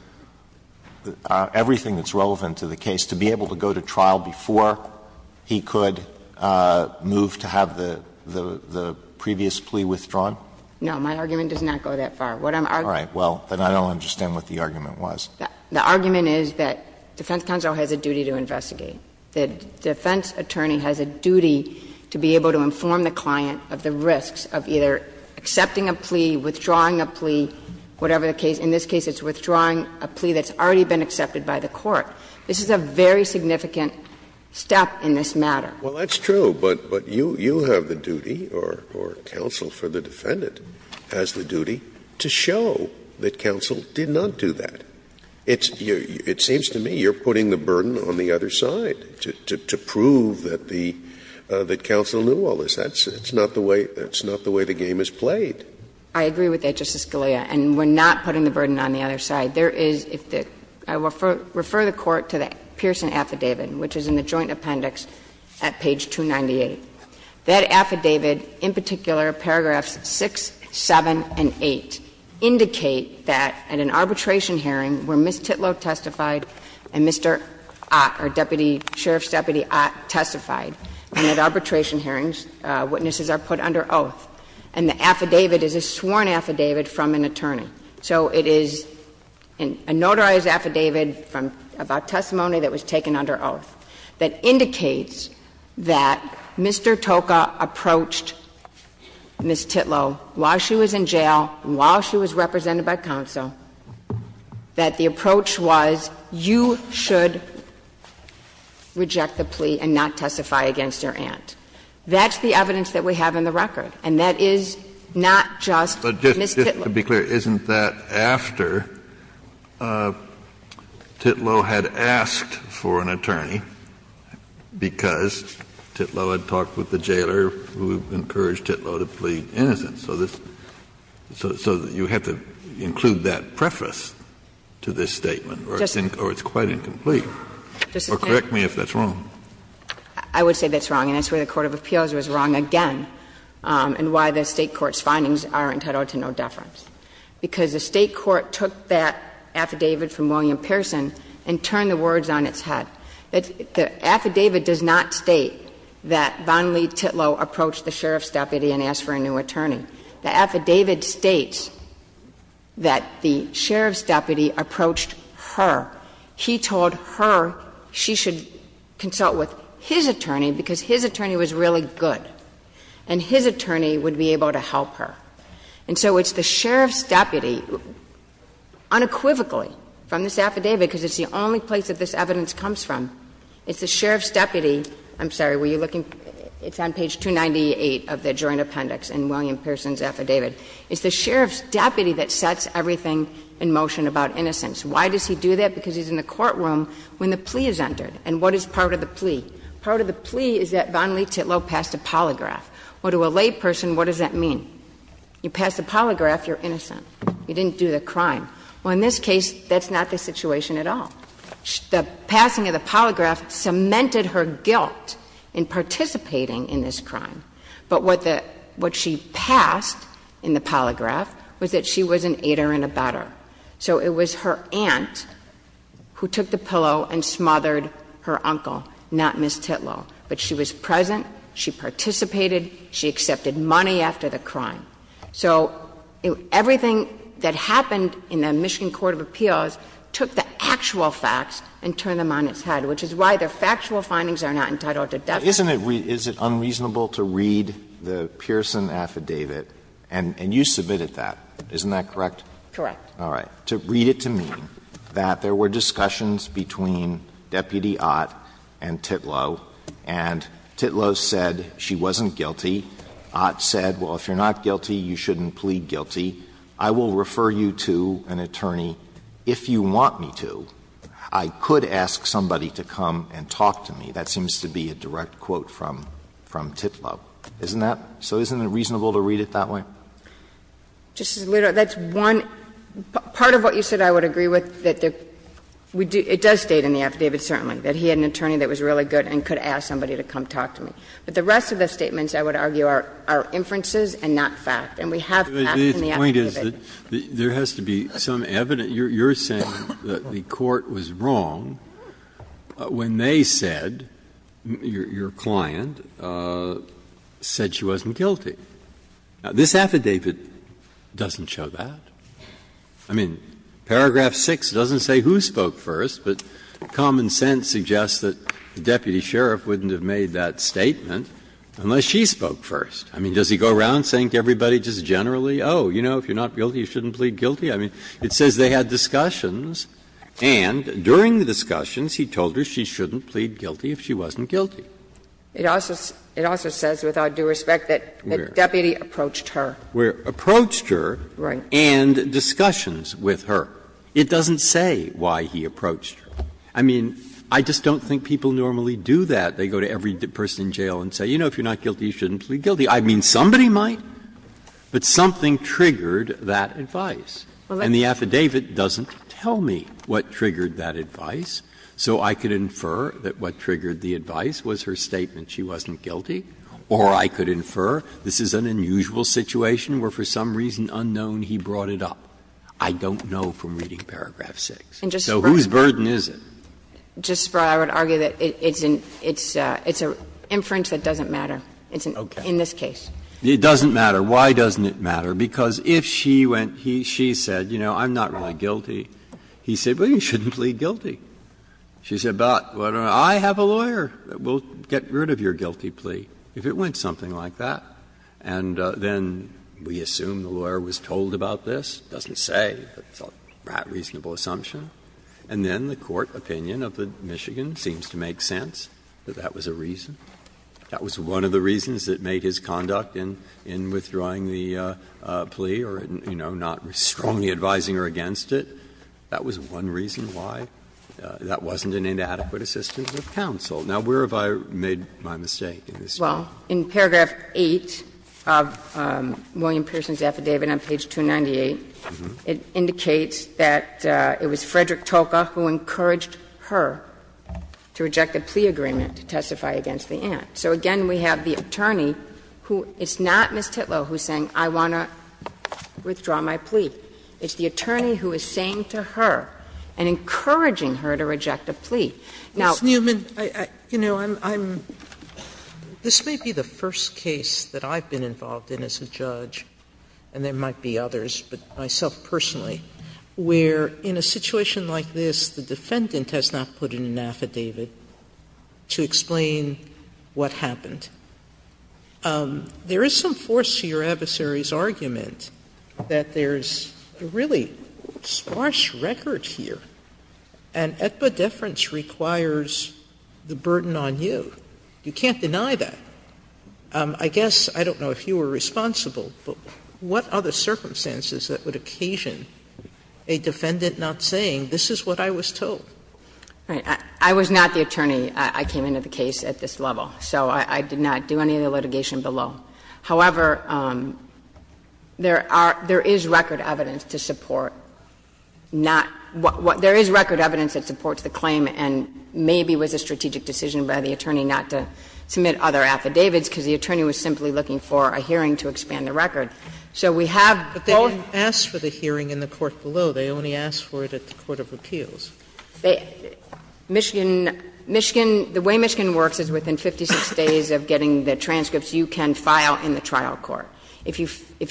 everything that's relevant to the case to be able to go to trial before he could move to have the previous plea withdrawn? No, my argument does not go that far. The defense counsel has a duty to investigate. The defense attorney has a duty to be able to inform the client of the risks of either accepting a plea, withdrawing a plea, whatever the case. In this case, it's withdrawing a plea that's already been accepted by the court. This is a very significant step in this matter. Well, that's true, but you have the duty or counsel for the defendant has the duty to show that counsel did not do that. It seems to me you're putting the burden on the other side to prove that the counsel knew all this. That's not the way the game is played. I agree with that, Justice Scalia. And we're not putting the burden on the other side. There is, if the – I will refer the Court to the Pearson Affidavit, which is in the Joint Appendix at page 298. That affidavit, in particular, paragraphs 6, 7, and 8, indicate that at an arbitration hearing where Ms. Titlow testified and Mr. Ott, our deputy sheriff's deputy Ott, testified, and at arbitration hearings witnesses are put under oath, and the affidavit is a sworn affidavit from an attorney. So it is a notarized affidavit from – about testimony that was taken under oath that indicates that Mr. Toka approached Ms. Titlow while she was in jail and while she was represented by counsel, that the approach was you should reject the plea and not testify against your aunt. That's the evidence that we have in the record, and that is not just Ms. Titlow. Kennedy, but just to be clear, isn't that after Titlow had asked for an attorney because Titlow had talked with the jailer who encouraged Titlow to plead innocent so this – so you have to include that preface to this statement, or it's quite incomplete. Or correct me if that's wrong. I would say that's wrong, and that's why the court of appeals was wrong again, and why the State court's findings are entitled to no deference. Because the State court took that affidavit from William Pearson and turned the words on its head. The affidavit does not state that Von Lee Titlow approached the sheriff's deputy and asked for a new attorney. The affidavit states that the sheriff's deputy approached her. He told her she should consult with his attorney because his attorney was really good, and his attorney would be able to help her. And so it's the sheriff's deputy unequivocally from this affidavit, because it's the only place that this evidence comes from, it's the sheriff's deputy – I'm sorry, were you looking – it's on page 298 of the joint appendix in William Pearson's affidavit. It's the sheriff's deputy that sets everything in motion about innocence. Why does he do that? Because he's in the courtroom when the plea is entered. And what is part of the plea? Part of the plea is that Von Lee Titlow passed a polygraph. Well, to a layperson, what does that mean? You passed a polygraph, you're innocent. You didn't do the crime. Well, in this case, that's not the situation at all. The passing of the polygraph cemented her guilt in participating in this crime. But what the – what she passed in the polygraph was that she was an aider and abetter. So it was her aunt who took the pillow and smothered her uncle, not Ms. Titlow. But she was present, she participated, she accepted money after the crime. So everything that happened in the Michigan court of appeals took the actual facts and turned them on its head, which is why the factual findings are not entitled to definition. Alito Isn't it – is it unreasonable to read the Pearson affidavit, and you submitted that, isn't that correct? Correct. All right. To read it to me that there were discussions between Deputy Ott and Titlow, and Titlow said she wasn't guilty. Ott said, well, if you're not guilty, you shouldn't plead guilty. I will refer you to an attorney if you want me to. I could ask somebody to come and talk to me. That seems to be a direct quote from – from Titlow, isn't that? So isn't it reasonable to read it that way? Justice Alito, that's one – part of what you said I would agree with, that the – it does state in the affidavit, certainly, that he had an attorney that was really good and could ask somebody to come talk to me. But the rest of the statements, I would argue, are inferences and not fact. And we have facts in the affidavit. Breyer, there has to be some evidence. You're saying that the court was wrong when they said, your client, said she wasn't guilty. Now, this affidavit doesn't show that. I mean, paragraph 6 doesn't say who spoke first, but common sense suggests that the deputy sheriff wouldn't have made that statement unless she spoke first. I mean, does he go around saying to everybody just generally, oh, you know, if you're not guilty, you shouldn't plead guilty? I mean, it says they had discussions, and during the discussions, he told her she shouldn't plead guilty if she wasn't guilty. It also says, with all due respect, that the deputy approached her. Approached her and discussions with her. It doesn't say why he approached her. I mean, I just don't think people normally do that. They go to every person in jail and say, you know, if you're not guilty, you shouldn't plead guilty. I mean, somebody might, but something triggered that advice. And the affidavit doesn't tell me what triggered that advice. So I could infer that what triggered the advice was her statement she wasn't guilty, or I could infer this is an unusual situation where for some reason unknown he brought it up. I don't know from reading paragraph 6. So whose burden is it? Justice Breyer, I would argue that it's an inference that doesn't matter. It's in this case. It doesn't matter. Why doesn't it matter? Because if she went, she said, you know, I'm not really guilty, he said, well, you shouldn't plead guilty. She said, but I have a lawyer that will get rid of your guilty plea if it went something like that. And then we assume the lawyer was told about this. It doesn't say. It's a reasonable assumption. And then the court opinion of the Michigan seems to make sense, that that was a reason. That was one of the reasons that made his conduct in withdrawing the plea or, you know, not strongly advising her against it. That was one reason why that wasn't an inadequate assistance of counsel. In paragraph 8 of William Pearson's affidavit on page 298, it indicates that it was Frederick Toca who encouraged her to reject the plea agreement to testify against the aunt. So again, we have the attorney who is not Ms. Titlow who is saying, I want to withdraw my plea. It's the attorney who is saying to her and encouraging her to reject a plea. Now, I'm going to ask you, Ms. Newman, you know, I'm — this may be the first case that I've been involved in as a judge, and there might be others, but myself personally, where in a situation like this, the defendant has not put in an affidavit to explain what happened. There is some force to your adversary's argument that there's a really sparse record here. And epidefference requires the burden on you. You can't deny that. I guess, I don't know if you were responsible, but what are the circumstances that would occasion a defendant not saying, this is what I was told? Newman, I was not the attorney. I came into the case at this level. So I did not do any of the litigation below. However, there are — there is record evidence to support not — there is record evidence that supports the claim, and maybe it was a strategic decision by the attorney not to submit other affidavits because the attorney was simply looking for a hearing to expand the record. So we have both — Sotomayor, but they didn't ask for the hearing in the court below. They only asked for it at the court of appeals. They — Michigan — Michigan — the way Michigan works is within 56 days of getting the transcripts, you can file in the trial court. If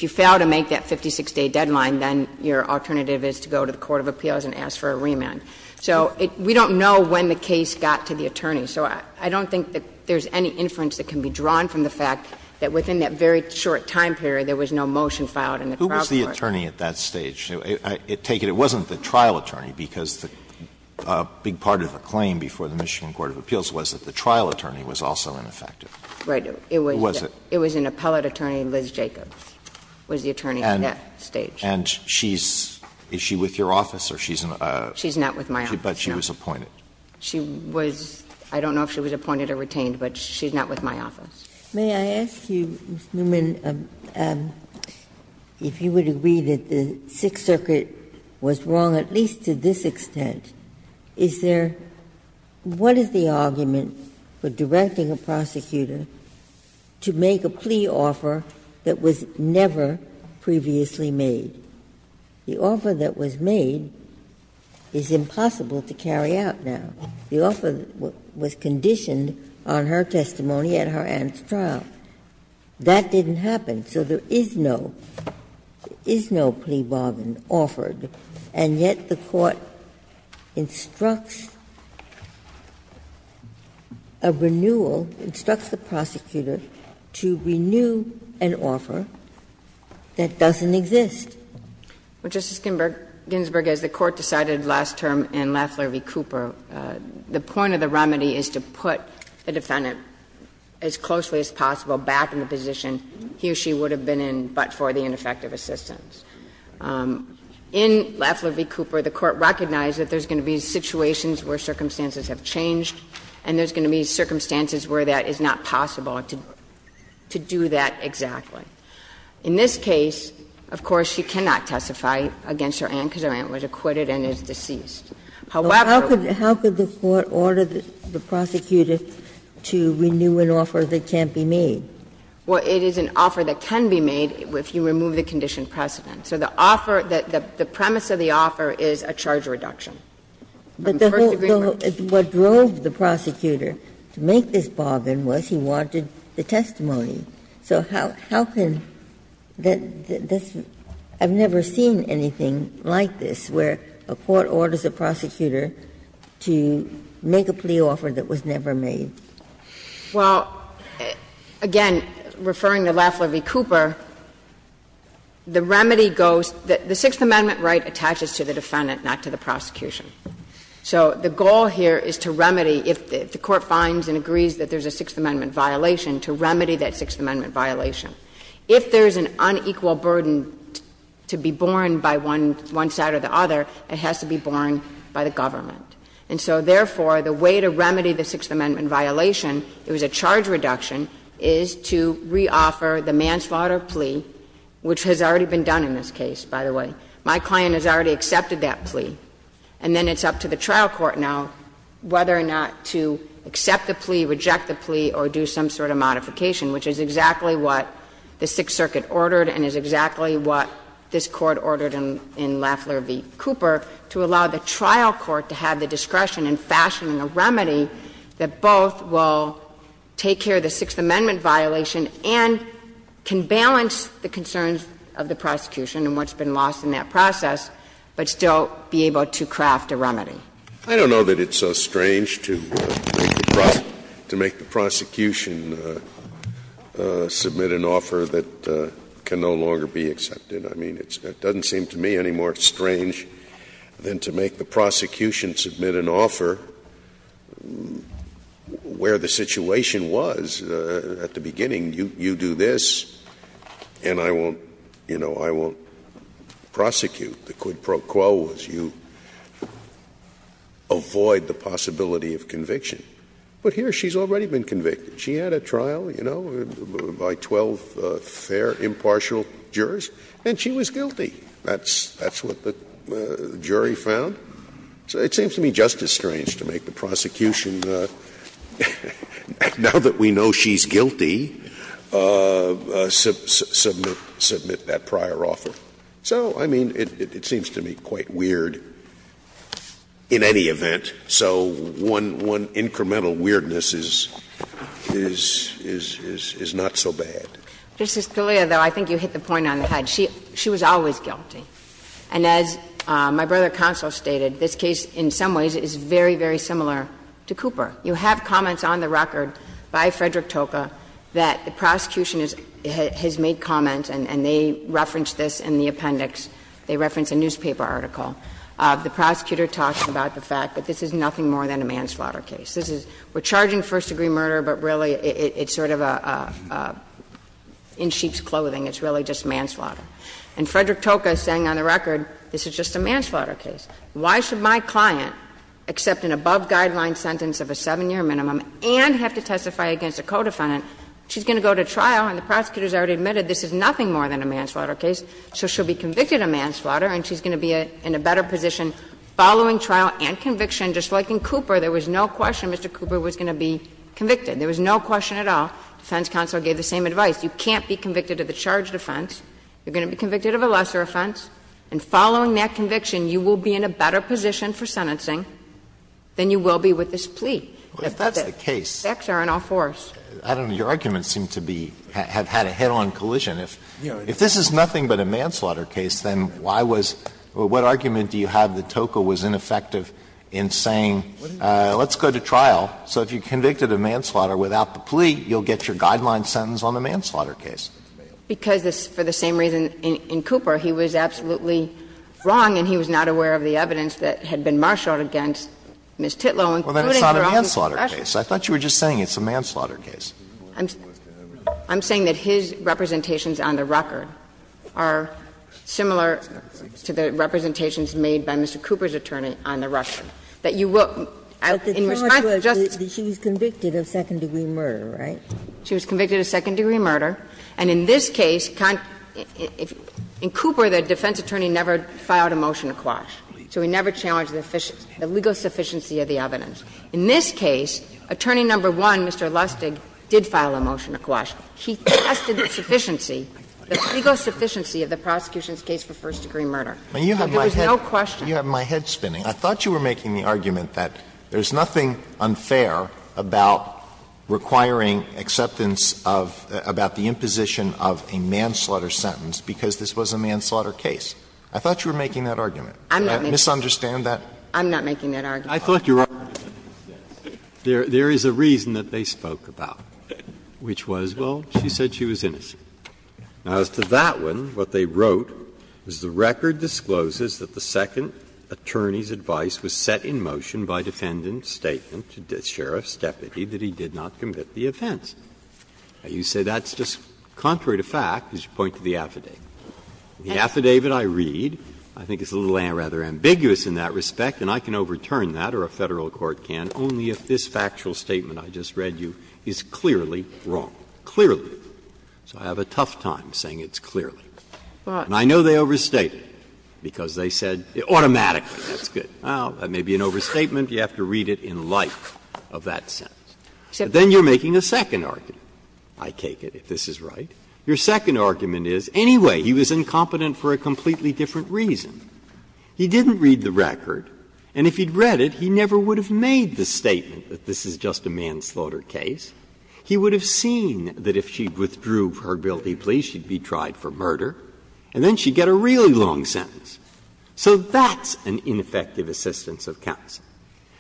you fail to make that 56-day deadline, then your alternative is to go to the court of appeals and ask for a remand. So we don't know when the case got to the attorney. So I don't think that there's any inference that can be drawn from the fact that within that very short time period, there was no motion filed in the trial court. Alito, who was the attorney at that stage? I take it it wasn't the trial attorney, because a big part of the claim before the Michigan court of appeals was that the trial attorney was also ineffective. Right. Who was it? It was an appellate attorney, Liz Jacobs, was the attorney at that stage. And she's — is she with your office, or she's in a — She's not with my office, no. But she was appointed. She was — I don't know if she was appointed or retained, but she's not with my office. May I ask you, Ms. Newman, if you would agree that the Sixth Circuit was wrong at least to this extent, is there — what is the argument for directing a prosecutor to make a plea offer that was never previously made? The offer that was made is impossible to carry out now. The offer was conditioned on her testimony at her aunt's trial. That didn't happen. So there is no — is no plea bargain offered, and yet the Court instructs a renewal, instructs the prosecutor to renew an offer that doesn't exist. Well, Justice Ginsburg, as the Court decided last term in Lafler v. Cooper, the point of the remedy is to put the defendant as closely as possible back in the position he or she would have been in but for the ineffective assistance. In Lafler v. Cooper, the Court recognized that there's going to be situations where circumstances have changed and there's going to be circumstances where that is not possible to do that exactly. In this case, of course, she cannot testify against her aunt because her aunt was acquitted and is deceased. However — But how could the Court order the prosecutor to renew an offer that can't be made? Well, it is an offer that can be made if you remove the conditioned precedent. So the offer that — the premise of the offer is a charge reduction. But the whole — what drove the prosecutor to make this bargain was he wanted the testimony. So how can that — I've never seen anything like this, where a court orders a prosecutor to make a plea offer that was never made. Well, again, referring to Lafler v. Cooper, the remedy goes — the Sixth Amendment right attaches to the defendant, not to the prosecution. So the goal here is to remedy, if the Court finds and agrees that there's a Sixth Amendment violation. If there's an unequal burden to be borne by one side or the other, it has to be borne by the government. And so, therefore, the way to remedy the Sixth Amendment violation, it was a charge reduction, is to reoffer the manslaughter plea, which has already been done in this case, by the way. My client has already accepted that plea. And then it's up to the trial court now whether or not to accept the plea, reject the plea, or do some sort of modification, which is exactly what the Sixth Circuit ordered and is exactly what this Court ordered in Lafler v. Cooper, to allow the trial court to have the discretion in fashioning a remedy that both will take care of the Sixth Amendment violation and can balance the concerns of the prosecution and what's been lost in that process, but still be able to craft a remedy. Scalia. I don't know that it's so strange to make the prosecution submit an offer that can no longer be accepted. I mean, it doesn't seem to me any more strange than to make the prosecution submit an offer where the situation was at the beginning, you do this and I won't you know, I won't prosecute. The quid pro quo was you avoid the possibility of conviction. But here she's already been convicted. She had a trial, you know, by 12 fair, impartial jurors, and she was guilty. That's what the jury found. So it seems to me just as strange to make the prosecution, now that we know she's guilty, submit that prior offer. So, I mean, it seems to me quite weird in any event. So one incremental weirdness is not so bad. Ms. Scalia, though, I think you hit the point on the head. She was always guilty. And as my brother Counsel stated, this case in some ways is very, very similar to Cooper. You have comments on the record by Frederick Toka that the prosecution has made comments and they reference this in the appendix. They reference a newspaper article. The prosecutor talks about the fact that this is nothing more than a manslaughter case. This is, we're charging first-degree murder, but really it's sort of a, in sheep's clothing, it's really just manslaughter. And Frederick Toka is saying on the record this is just a manslaughter case. Why should my client accept an above-guideline sentence of a 7-year minimum and have to testify against a co-defendant? She's going to go to trial and the prosecutor has already admitted this is nothing more than a manslaughter case. So she'll be convicted of manslaughter and she's going to be in a better position following trial and conviction. Just like in Cooper, there was no question Mr. Cooper was going to be convicted. There was no question at all. The defense counsel gave the same advice. You can't be convicted of a charged offense. You're going to be convicted of a lesser offense. And following that conviction, you will be in a better position for sentencing than you will be with this plea. If the facts are in all fours. Alito, your arguments seem to be, have had a head-on collision. If this is nothing but a manslaughter case, then why was, what argument do you have that Toka was ineffective in saying let's go to trial, so if you convicted a manslaughter without the plea, you'll get your guideline sentence on the manslaughter case? Because for the same reason in Cooper, he was absolutely wrong and he was not aware of the evidence that had been marshaled against Ms. Titlow, including her office special. So I thought you were just saying it's a manslaughter case. I'm saying that his representations on the record are similar to the representations made by Mr. Cooper's attorney on the record. That you will, in response to just the case, she was convicted of second-degree murder, right? She was convicted of second-degree murder. And in this case, in Cooper, the defense attorney never filed a motion to quash. So he never challenged the legal sufficiency of the evidence. In this case, attorney number one, Mr. Lustig, did file a motion to quash. He tested the sufficiency, the legal sufficiency of the prosecution's case for first-degree murder. So there was no question. Alito You have my head spinning. I thought you were making the argument that there's nothing unfair about requiring acceptance of, about the imposition of a manslaughter sentence because this was a manslaughter case. I thought you were making that argument. Did I misunderstand that? I'm not making that argument. I thought you were. There is a reason that they spoke about, which was, well, she said she was innocent. Now, as to that one, what they wrote is the record discloses that the second attorney's advice was set in motion by defendant's statement to the sheriff's deputy that he did not commit the offense. You say that's just contrary to fact, as you point to the affidavit. The affidavit I read, I think, is rather ambiguous in that respect, and I can overturn that, or a Federal court can, only if this factual statement I just read you is clearly wrong, clearly. So I have a tough time saying it's clearly. And I know they overstated, because they said automatically, that's good. Well, that may be an overstatement. You have to read it in light of that sentence. But then you're making a second argument, I take it, if this is right. Your second argument is, anyway, he was incompetent for a completely different reason. He didn't read the record. And if he'd read it, he never would have made the statement that this is just a manslaughter case. He would have seen that if she withdrew her guilty plea, she'd be tried for murder, and then she'd get a really long sentence. So that's an ineffective assistance of counsel.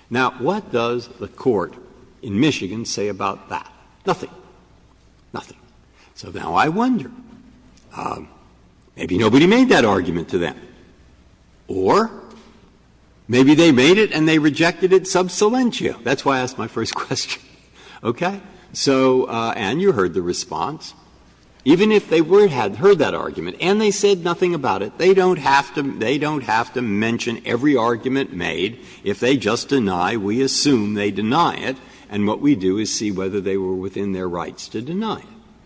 Now, what does the Court in Michigan say about that? Nothing. Nothing. So now I wonder, maybe nobody made that argument to them. Or maybe they made it and they rejected it sub silentio. That's why I asked my first question. Okay? So, Ann, you heard the response. Even if they had heard that argument and they said nothing about it, they don't have to mention every argument made. If they just deny, we assume they deny it. And what we do is see whether they were within their rights to deny it.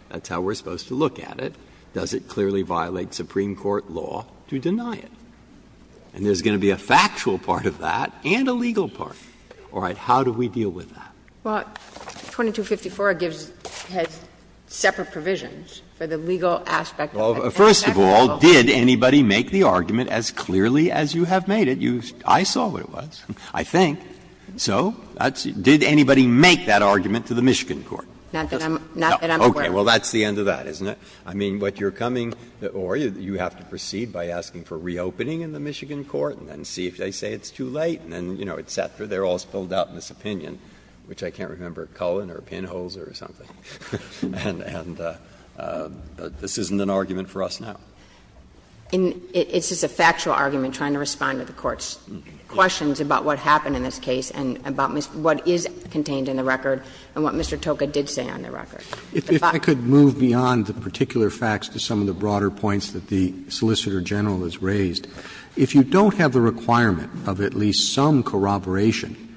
That's how we're supposed to look at it. Does it clearly violate Supreme Court law to deny it? And there's going to be a factual part of that and a legal part. All right. How do we deal with that? Well, 2254 gives the separate provisions for the legal aspect of that. Well, first of all, did anybody make the argument as clearly as you have made it? I saw what it was, I think. So did anybody make that argument to the Michigan court? Not that I'm aware of. Okay. Well, that's the end of that, isn't it? I mean, what you're coming or you have to proceed by asking for reopening in the Michigan court and then see if they say it's too late and then, you know, et cetera. They're all spelled out in this opinion, which I can't remember, Cullen or Pinholzer or something. And this isn't an argument for us now. It's just a factual argument trying to respond to the Court's questions about what happened in this case and about what is contained in the record and what Mr. Toka did say on the record. Roberts If I could move beyond the particular facts to some of the broader points that the Solicitor General has raised, if you don't have the requirement of at least some corroboration,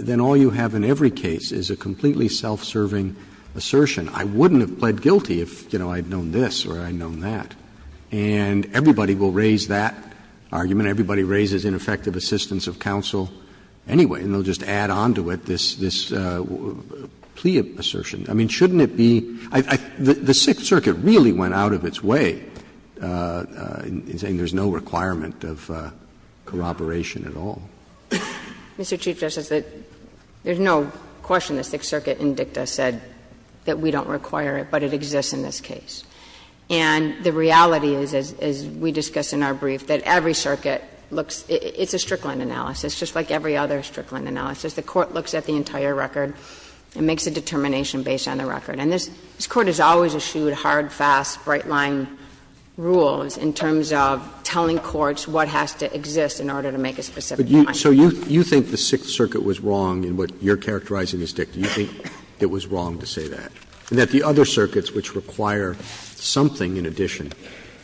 then all you have in every case is a completely self-serving assertion. I wouldn't have pled guilty if, you know, I had known this or I had known that. And everybody will raise that argument. Everybody raises ineffective assistance of counsel anyway. And they'll just add on to it this plea assertion. I mean, shouldn't it be the Sixth Circuit really went out of its way in saying there's no requirement of corroboration at all? Kagan Mr. Chief Justice, there's no question the Sixth Circuit in dicta said that we don't require it, but it exists in this case. And the reality is, as we discussed in our brief, that every circuit looks at the Strickland analysis, just like every other Strickland analysis. The court looks at the entire record and makes a determination based on the record. And this Court has always eschewed hard, fast, bright-line rules in terms of telling courts what has to exist in order to make a specific point. Roberts So you think the Sixth Circuit was wrong in what you're characterizing as dicta? You think it was wrong to say that? And that the other circuits which require something in addition,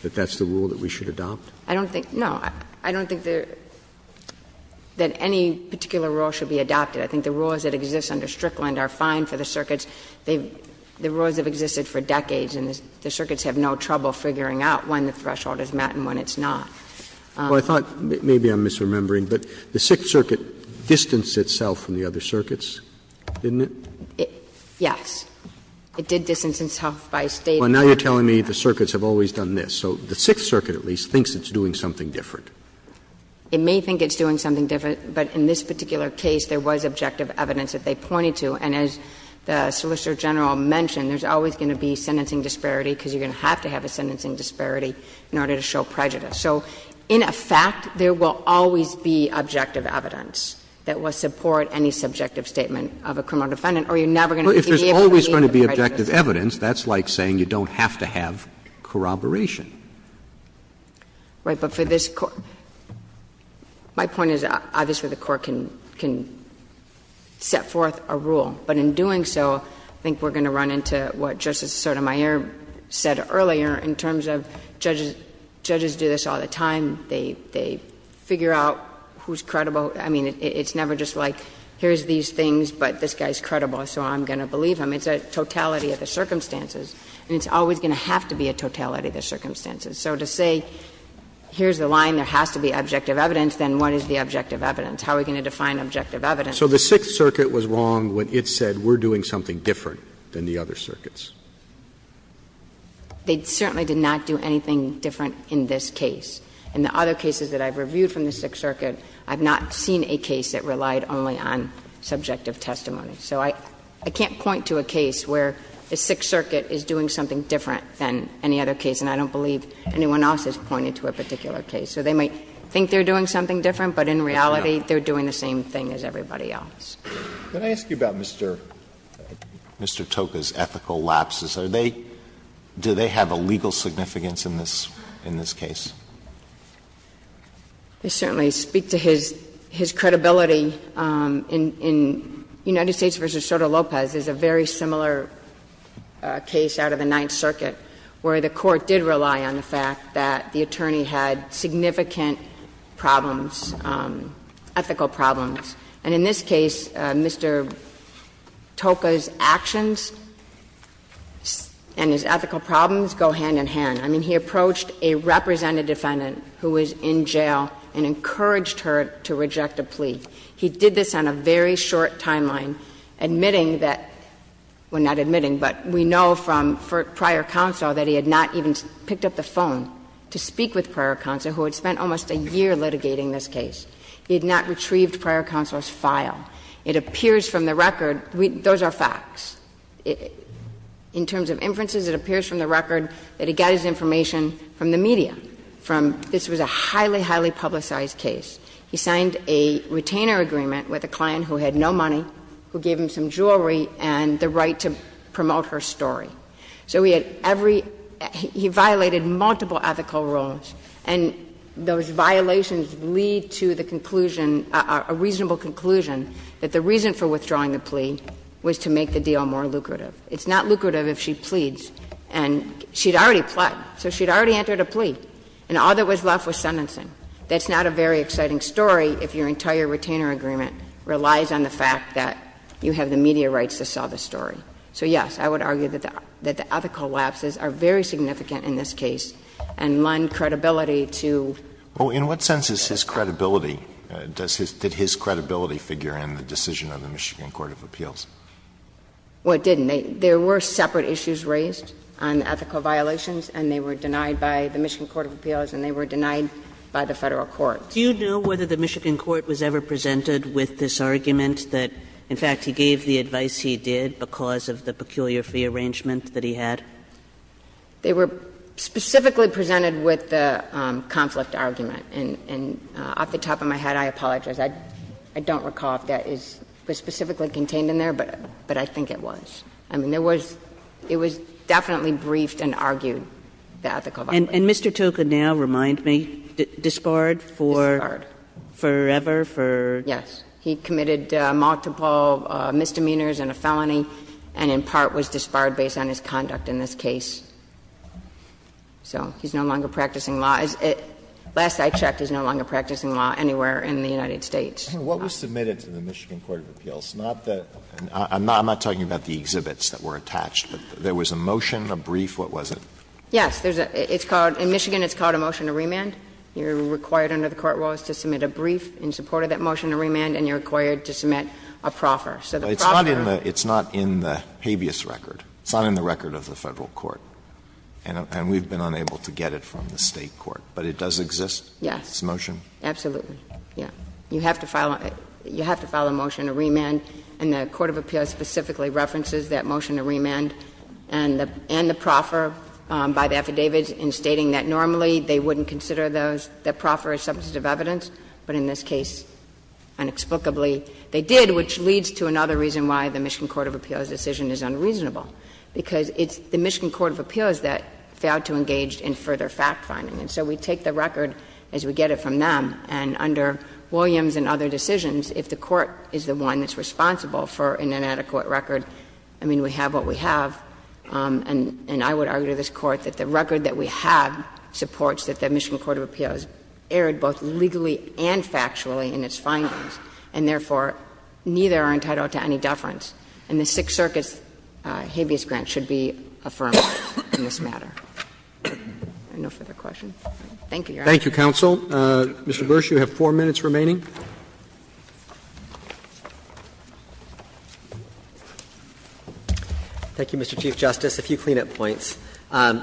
that that's the rule that we should adopt? Kagan I don't think, no, I don't think that any particular rule should be adopted. I think the rules that exist under Strickland are fine for the circuits. The rules have existed for decades, and the circuits have no trouble figuring out when the threshold is met and when it's not. Roberts Well, I thought, maybe I'm misremembering, but the Sixth Circuit distanced itself from the other circuits, didn't it? Kagan Yes. It did distance itself by State court. Roberts Well, now you're telling me the circuits have always done this. So the Sixth Circuit, at least, thinks it's doing something different. Kagan It may think it's doing something different, but in this particular case, there was objective evidence that they pointed to. And as the Solicitor General mentioned, there's always going to be sentencing disparity because you're going to have to have a sentencing disparity in order to show prejudice. So in effect, there will always be objective evidence that will support any subjective statement of a criminal defendant, or you're never going to be able to believe the prejudice. And if you have objective evidence, that's like saying you don't have to have corroboration. Kagan Right, but for this Court — my point is, obviously, the Court can set forth a rule. But in doing so, I think we're going to run into what Justice Sotomayor said earlier in terms of judges do this all the time. They figure out who's credible. I mean, it's never just like, here's these things, but this guy's credible, so I'm going to believe him. It's a totality of the circumstances, and it's always going to have to be a totality of the circumstances. So to say, here's the line, there has to be objective evidence, then what is the objective evidence? How are we going to define objective evidence? Roberts So the Sixth Circuit was wrong when it said, we're doing something different than the other circuits. Kagan They certainly did not do anything different in this case. In the other cases that I've reviewed from the Sixth Circuit, I've not seen a case that relied only on subjective testimony. So I can't point to a case where the Sixth Circuit is doing something different than any other case, and I don't believe anyone else has pointed to a particular case. So they might think they're doing something different, but in reality, they're doing the same thing as everybody else. Alito Can I ask you about Mr. Toka's ethical lapses? Are they – do they have a legal significance in this case? I certainly speak to his credibility in United States v. Soto Lopez. There's a very similar case out of the Ninth Circuit, where the Court did rely on the fact that the attorney had significant problems, ethical problems. And in this case, Mr. Toka's actions and his ethical problems go hand in hand. I mean, he approached a representative defendant who was in jail and encouraged her to reject a plea. He did this on a very short timeline, admitting that – well, not admitting, but we know from prior counsel that he had not even picked up the phone to speak with prior counsel, who had spent almost a year litigating this case. He had not retrieved prior counsel's file. It appears from the record – those are facts. In terms of inferences, it appears from the record that he got his information from the media, from – this was a highly, highly publicized case. He signed a retainer agreement with a client who had no money, who gave him some jewelry and the right to promote her story. So he had every – he violated multiple ethical rules, and those violations lead to the conclusion, a reasonable conclusion, that the reason for withdrawing the plea was to make the deal more lucrative. It's not lucrative if she pleads, and she had already pled. So she had already entered a plea, and all that was left was sentencing. That's not a very exciting story if your entire retainer agreement relies on the fact that you have the media rights to sell the story. So, yes, I would argue that the ethical lapses are very significant in this case and lend credibility to – Well, in what sense is his credibility – did his credibility figure in the decision of the Michigan Court of Appeals? Well, it didn't. There were separate issues raised on ethical violations, and they were denied by the Michigan Court of Appeals, and they were denied by the Federal court. Do you know whether the Michigan court was ever presented with this argument that, in fact, he gave the advice he did because of the peculiar fee arrangement that he had? They were specifically presented with the conflict argument. And off the top of my head, I apologize. I don't recall if that is specifically contained in there, but I think it was. I mean, there was – it was definitely briefed and argued, the ethical violations. And Mr. Toca now, remind me, disbarred for forever, for – Yes. He committed multiple misdemeanors and a felony, and in part was disbarred based on his conduct in this case. So he's no longer practicing law. Last I checked, he's no longer practicing law anywhere in the United States. What was submitted to the Michigan Court of Appeals? Not the – I'm not talking about the exhibits that were attached, but there was a motion, a brief, what was it? Yes. There's a – it's called – in Michigan, it's called a motion to remand. You're required under the court rules to submit a brief in support of that motion to remand, and you're required to submit a proffer. So the proffer – It's not in the – it's not in the habeas record. It's not in the record of the Federal court, and we've been unable to get it from the State court, but it does exist? Yes. It's a motion? Absolutely. Yeah. You have to file a – you have to file a motion to remand, and the court of appeals specifically references that motion to remand and the – and the proffer by the affidavits in stating that normally they wouldn't consider those – the proffer as substantive evidence, but in this case, inexplicably, they did, which leads to another reason why the Michigan Court of Appeals' decision is unreasonable, because it's the Michigan Court of Appeals that failed to engage in further fact-finding. And so we take the record as we get it from them, and under Williams and other decisions, if the court is the one that's responsible for an inadequate record, I mean, we have what we have, and I would argue to this Court that the record that we have supports that the Michigan Court of Appeals erred both legally and factually in its findings, and therefore, neither are entitled to any deference. And the Sixth Circuit's habeas grant should be affirmed in this matter. Are there no further questions? Thank you, Your Honor. Roberts, Mr. Bursch, you have four minutes remaining. Thank you, Mr. Chief Justice. A few clean-up points.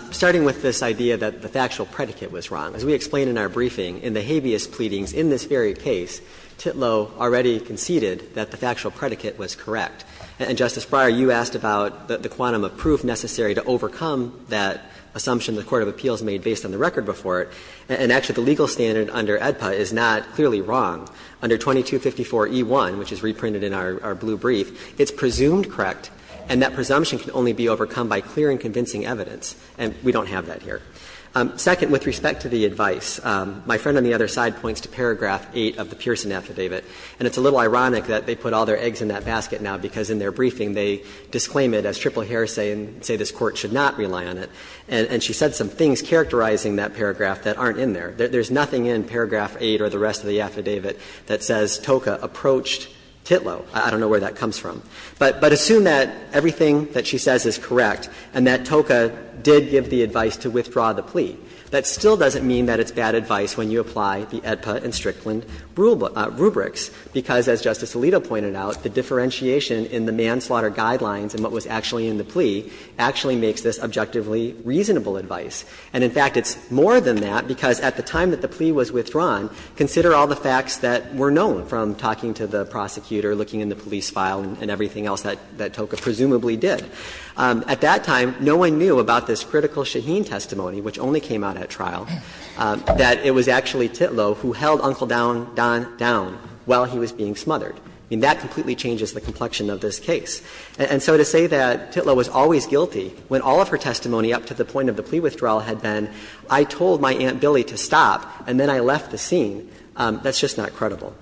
Starting with this idea that the factual predicate was wrong. As we explained in our briefing, in the habeas pleadings in this very case, Titlow already conceded that the factual predicate was correct. And, Justice Breyer, you asked about the quantum of proof necessary to overcome that assumption the court of appeals made based on the record before it. And actually, the legal standard under AEDPA is not clearly wrong. Under 2254e1, which is reprinted in our blue brief, it's presumed correct, and that presumption can only be overcome by clear and convincing evidence, and we don't have that here. Second, with respect to the advice, my friend on the other side points to paragraph 8 of the Pearson affidavit, and it's a little ironic that they put all their eggs in that basket now, because in their briefing they disclaim it as triple heresy and say this Court should not rely on it. And she said some things characterizing that paragraph that aren't in there. There's nothing in paragraph 8 or the rest of the affidavit that says Toka approached Titlow. I don't know where that comes from. But assume that everything that she says is correct and that Toka did give the advice to withdraw the plea. That still doesn't mean that it's bad advice when you apply the AEDPA and Strickland rubrics, because as Justice Alito pointed out, the differentiation in the manslaughter guidelines and what was actually in the plea actually makes this objectively reasonable advice. And in fact, it's more than that, because at the time that the plea was withdrawn, consider all the facts that were known from talking to the prosecutor, looking in the police file and everything else that Toka presumably did. At that time, no one knew about this critical Shaheen testimony, which only came out at trial, that it was actually Titlow who held Uncle Don down while he was being smothered. I mean, that completely changes the complexion of this case. And so to say that Titlow was always guilty when all of her testimony up to the point of the plea withdrawal had been, I told my Aunt Billy to stop and then I left the scene, that's just not credible.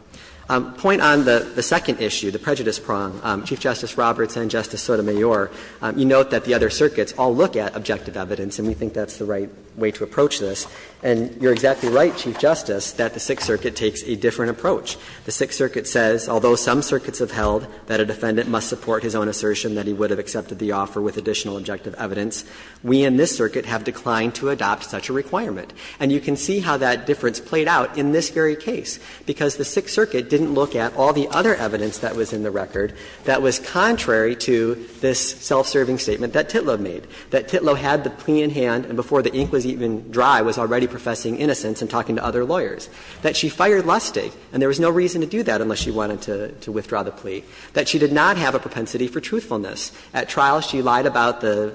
Point on the second issue, the prejudice prong, Chief Justice Roberts and Justice Sotomayor, you note that the other circuits all look at objective evidence and we think that's the right way to approach this. And you're exactly right, Chief Justice, that the Sixth Circuit takes a different approach. The Sixth Circuit says, although some circuits have held that a defendant must support his own assertion that he would have accepted the offer with additional objective evidence, we in this circuit have declined to adopt such a requirement. And you can see how that difference played out in this very case, because the Sixth Circuit didn't look at all the other evidence that was in the record that was contrary to this self-serving statement that Titlow made, that Titlow had the plea in hand and before the ink was even dry was already professing innocence and talking to other lawyers, that she fired Lustig and there was no reason to do that unless she wanted to withdraw the plea, that she did not have a propensity for truthfulness. At trial she lied about the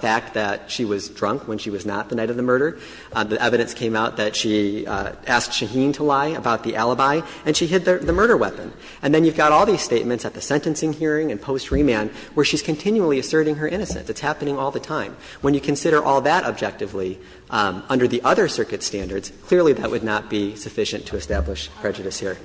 fact that she was drunk when she was not the night of the murder. The evidence came out that she asked Shaheen to lie about the alibi and she hid the murder weapon. And then you've got all these statements at the sentencing hearing and post-remand where she's continually asserting her innocence. It's happening all the time. When you consider all that objectively under the other circuit standards, clearly that would not be sufficient to establish prejudice here.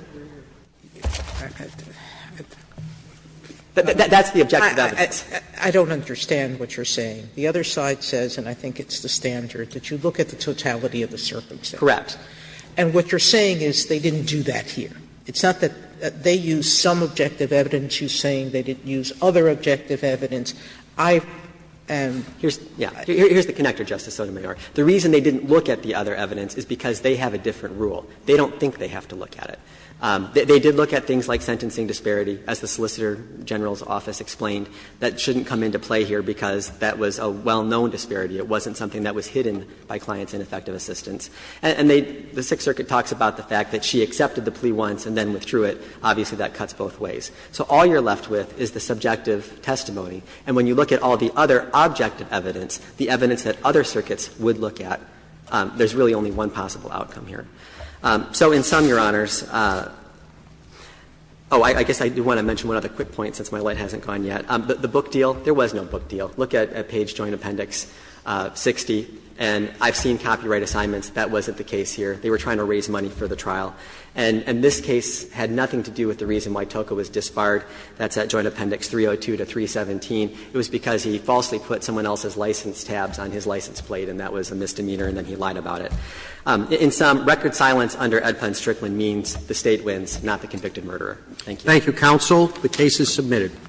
That's the objective evidence. Sotomayor, I don't understand what you're saying. The other side says, and I think it's the standard, that you look at the totality of the circumstance. Correct. And what you're saying is they didn't do that here. It's not that they used some objective evidence. You're saying they didn't use other objective evidence. I am. Here's the connector, Justice Sotomayor. The reason they didn't look at the other evidence is because they have a different rule. They don't think they have to look at it. They did look at things like sentencing disparity, as the Solicitor General's office explained, that shouldn't come into play here because that was a well-known disparity. It wasn't something that was hidden by clients in effective assistance. And they – the Sixth Circuit talks about the fact that she accepted the plea once and then withdrew it. Obviously, that cuts both ways. So all you're left with is the subjective testimony. And when you look at all the other objective evidence, the evidence that other circuits would look at, there's really only one possible outcome here. So in sum, Your Honors – oh, I guess I do want to mention one other quick point since my light hasn't gone yet. The book deal, there was no book deal. Look at page joint appendix 60, and I've seen copyright assignments that wasn't the case here. They were trying to raise money for the trial. And this case had nothing to do with the reason why Toca was disbarred. That's at joint appendix 302 to 317. It was because he falsely put someone else's license tabs on his license plate, and that was a misdemeanor, and then he lied about it. In sum, record silence under Edpun Strickland means the State wins, not the convicted murderer. Thank you. Roberts.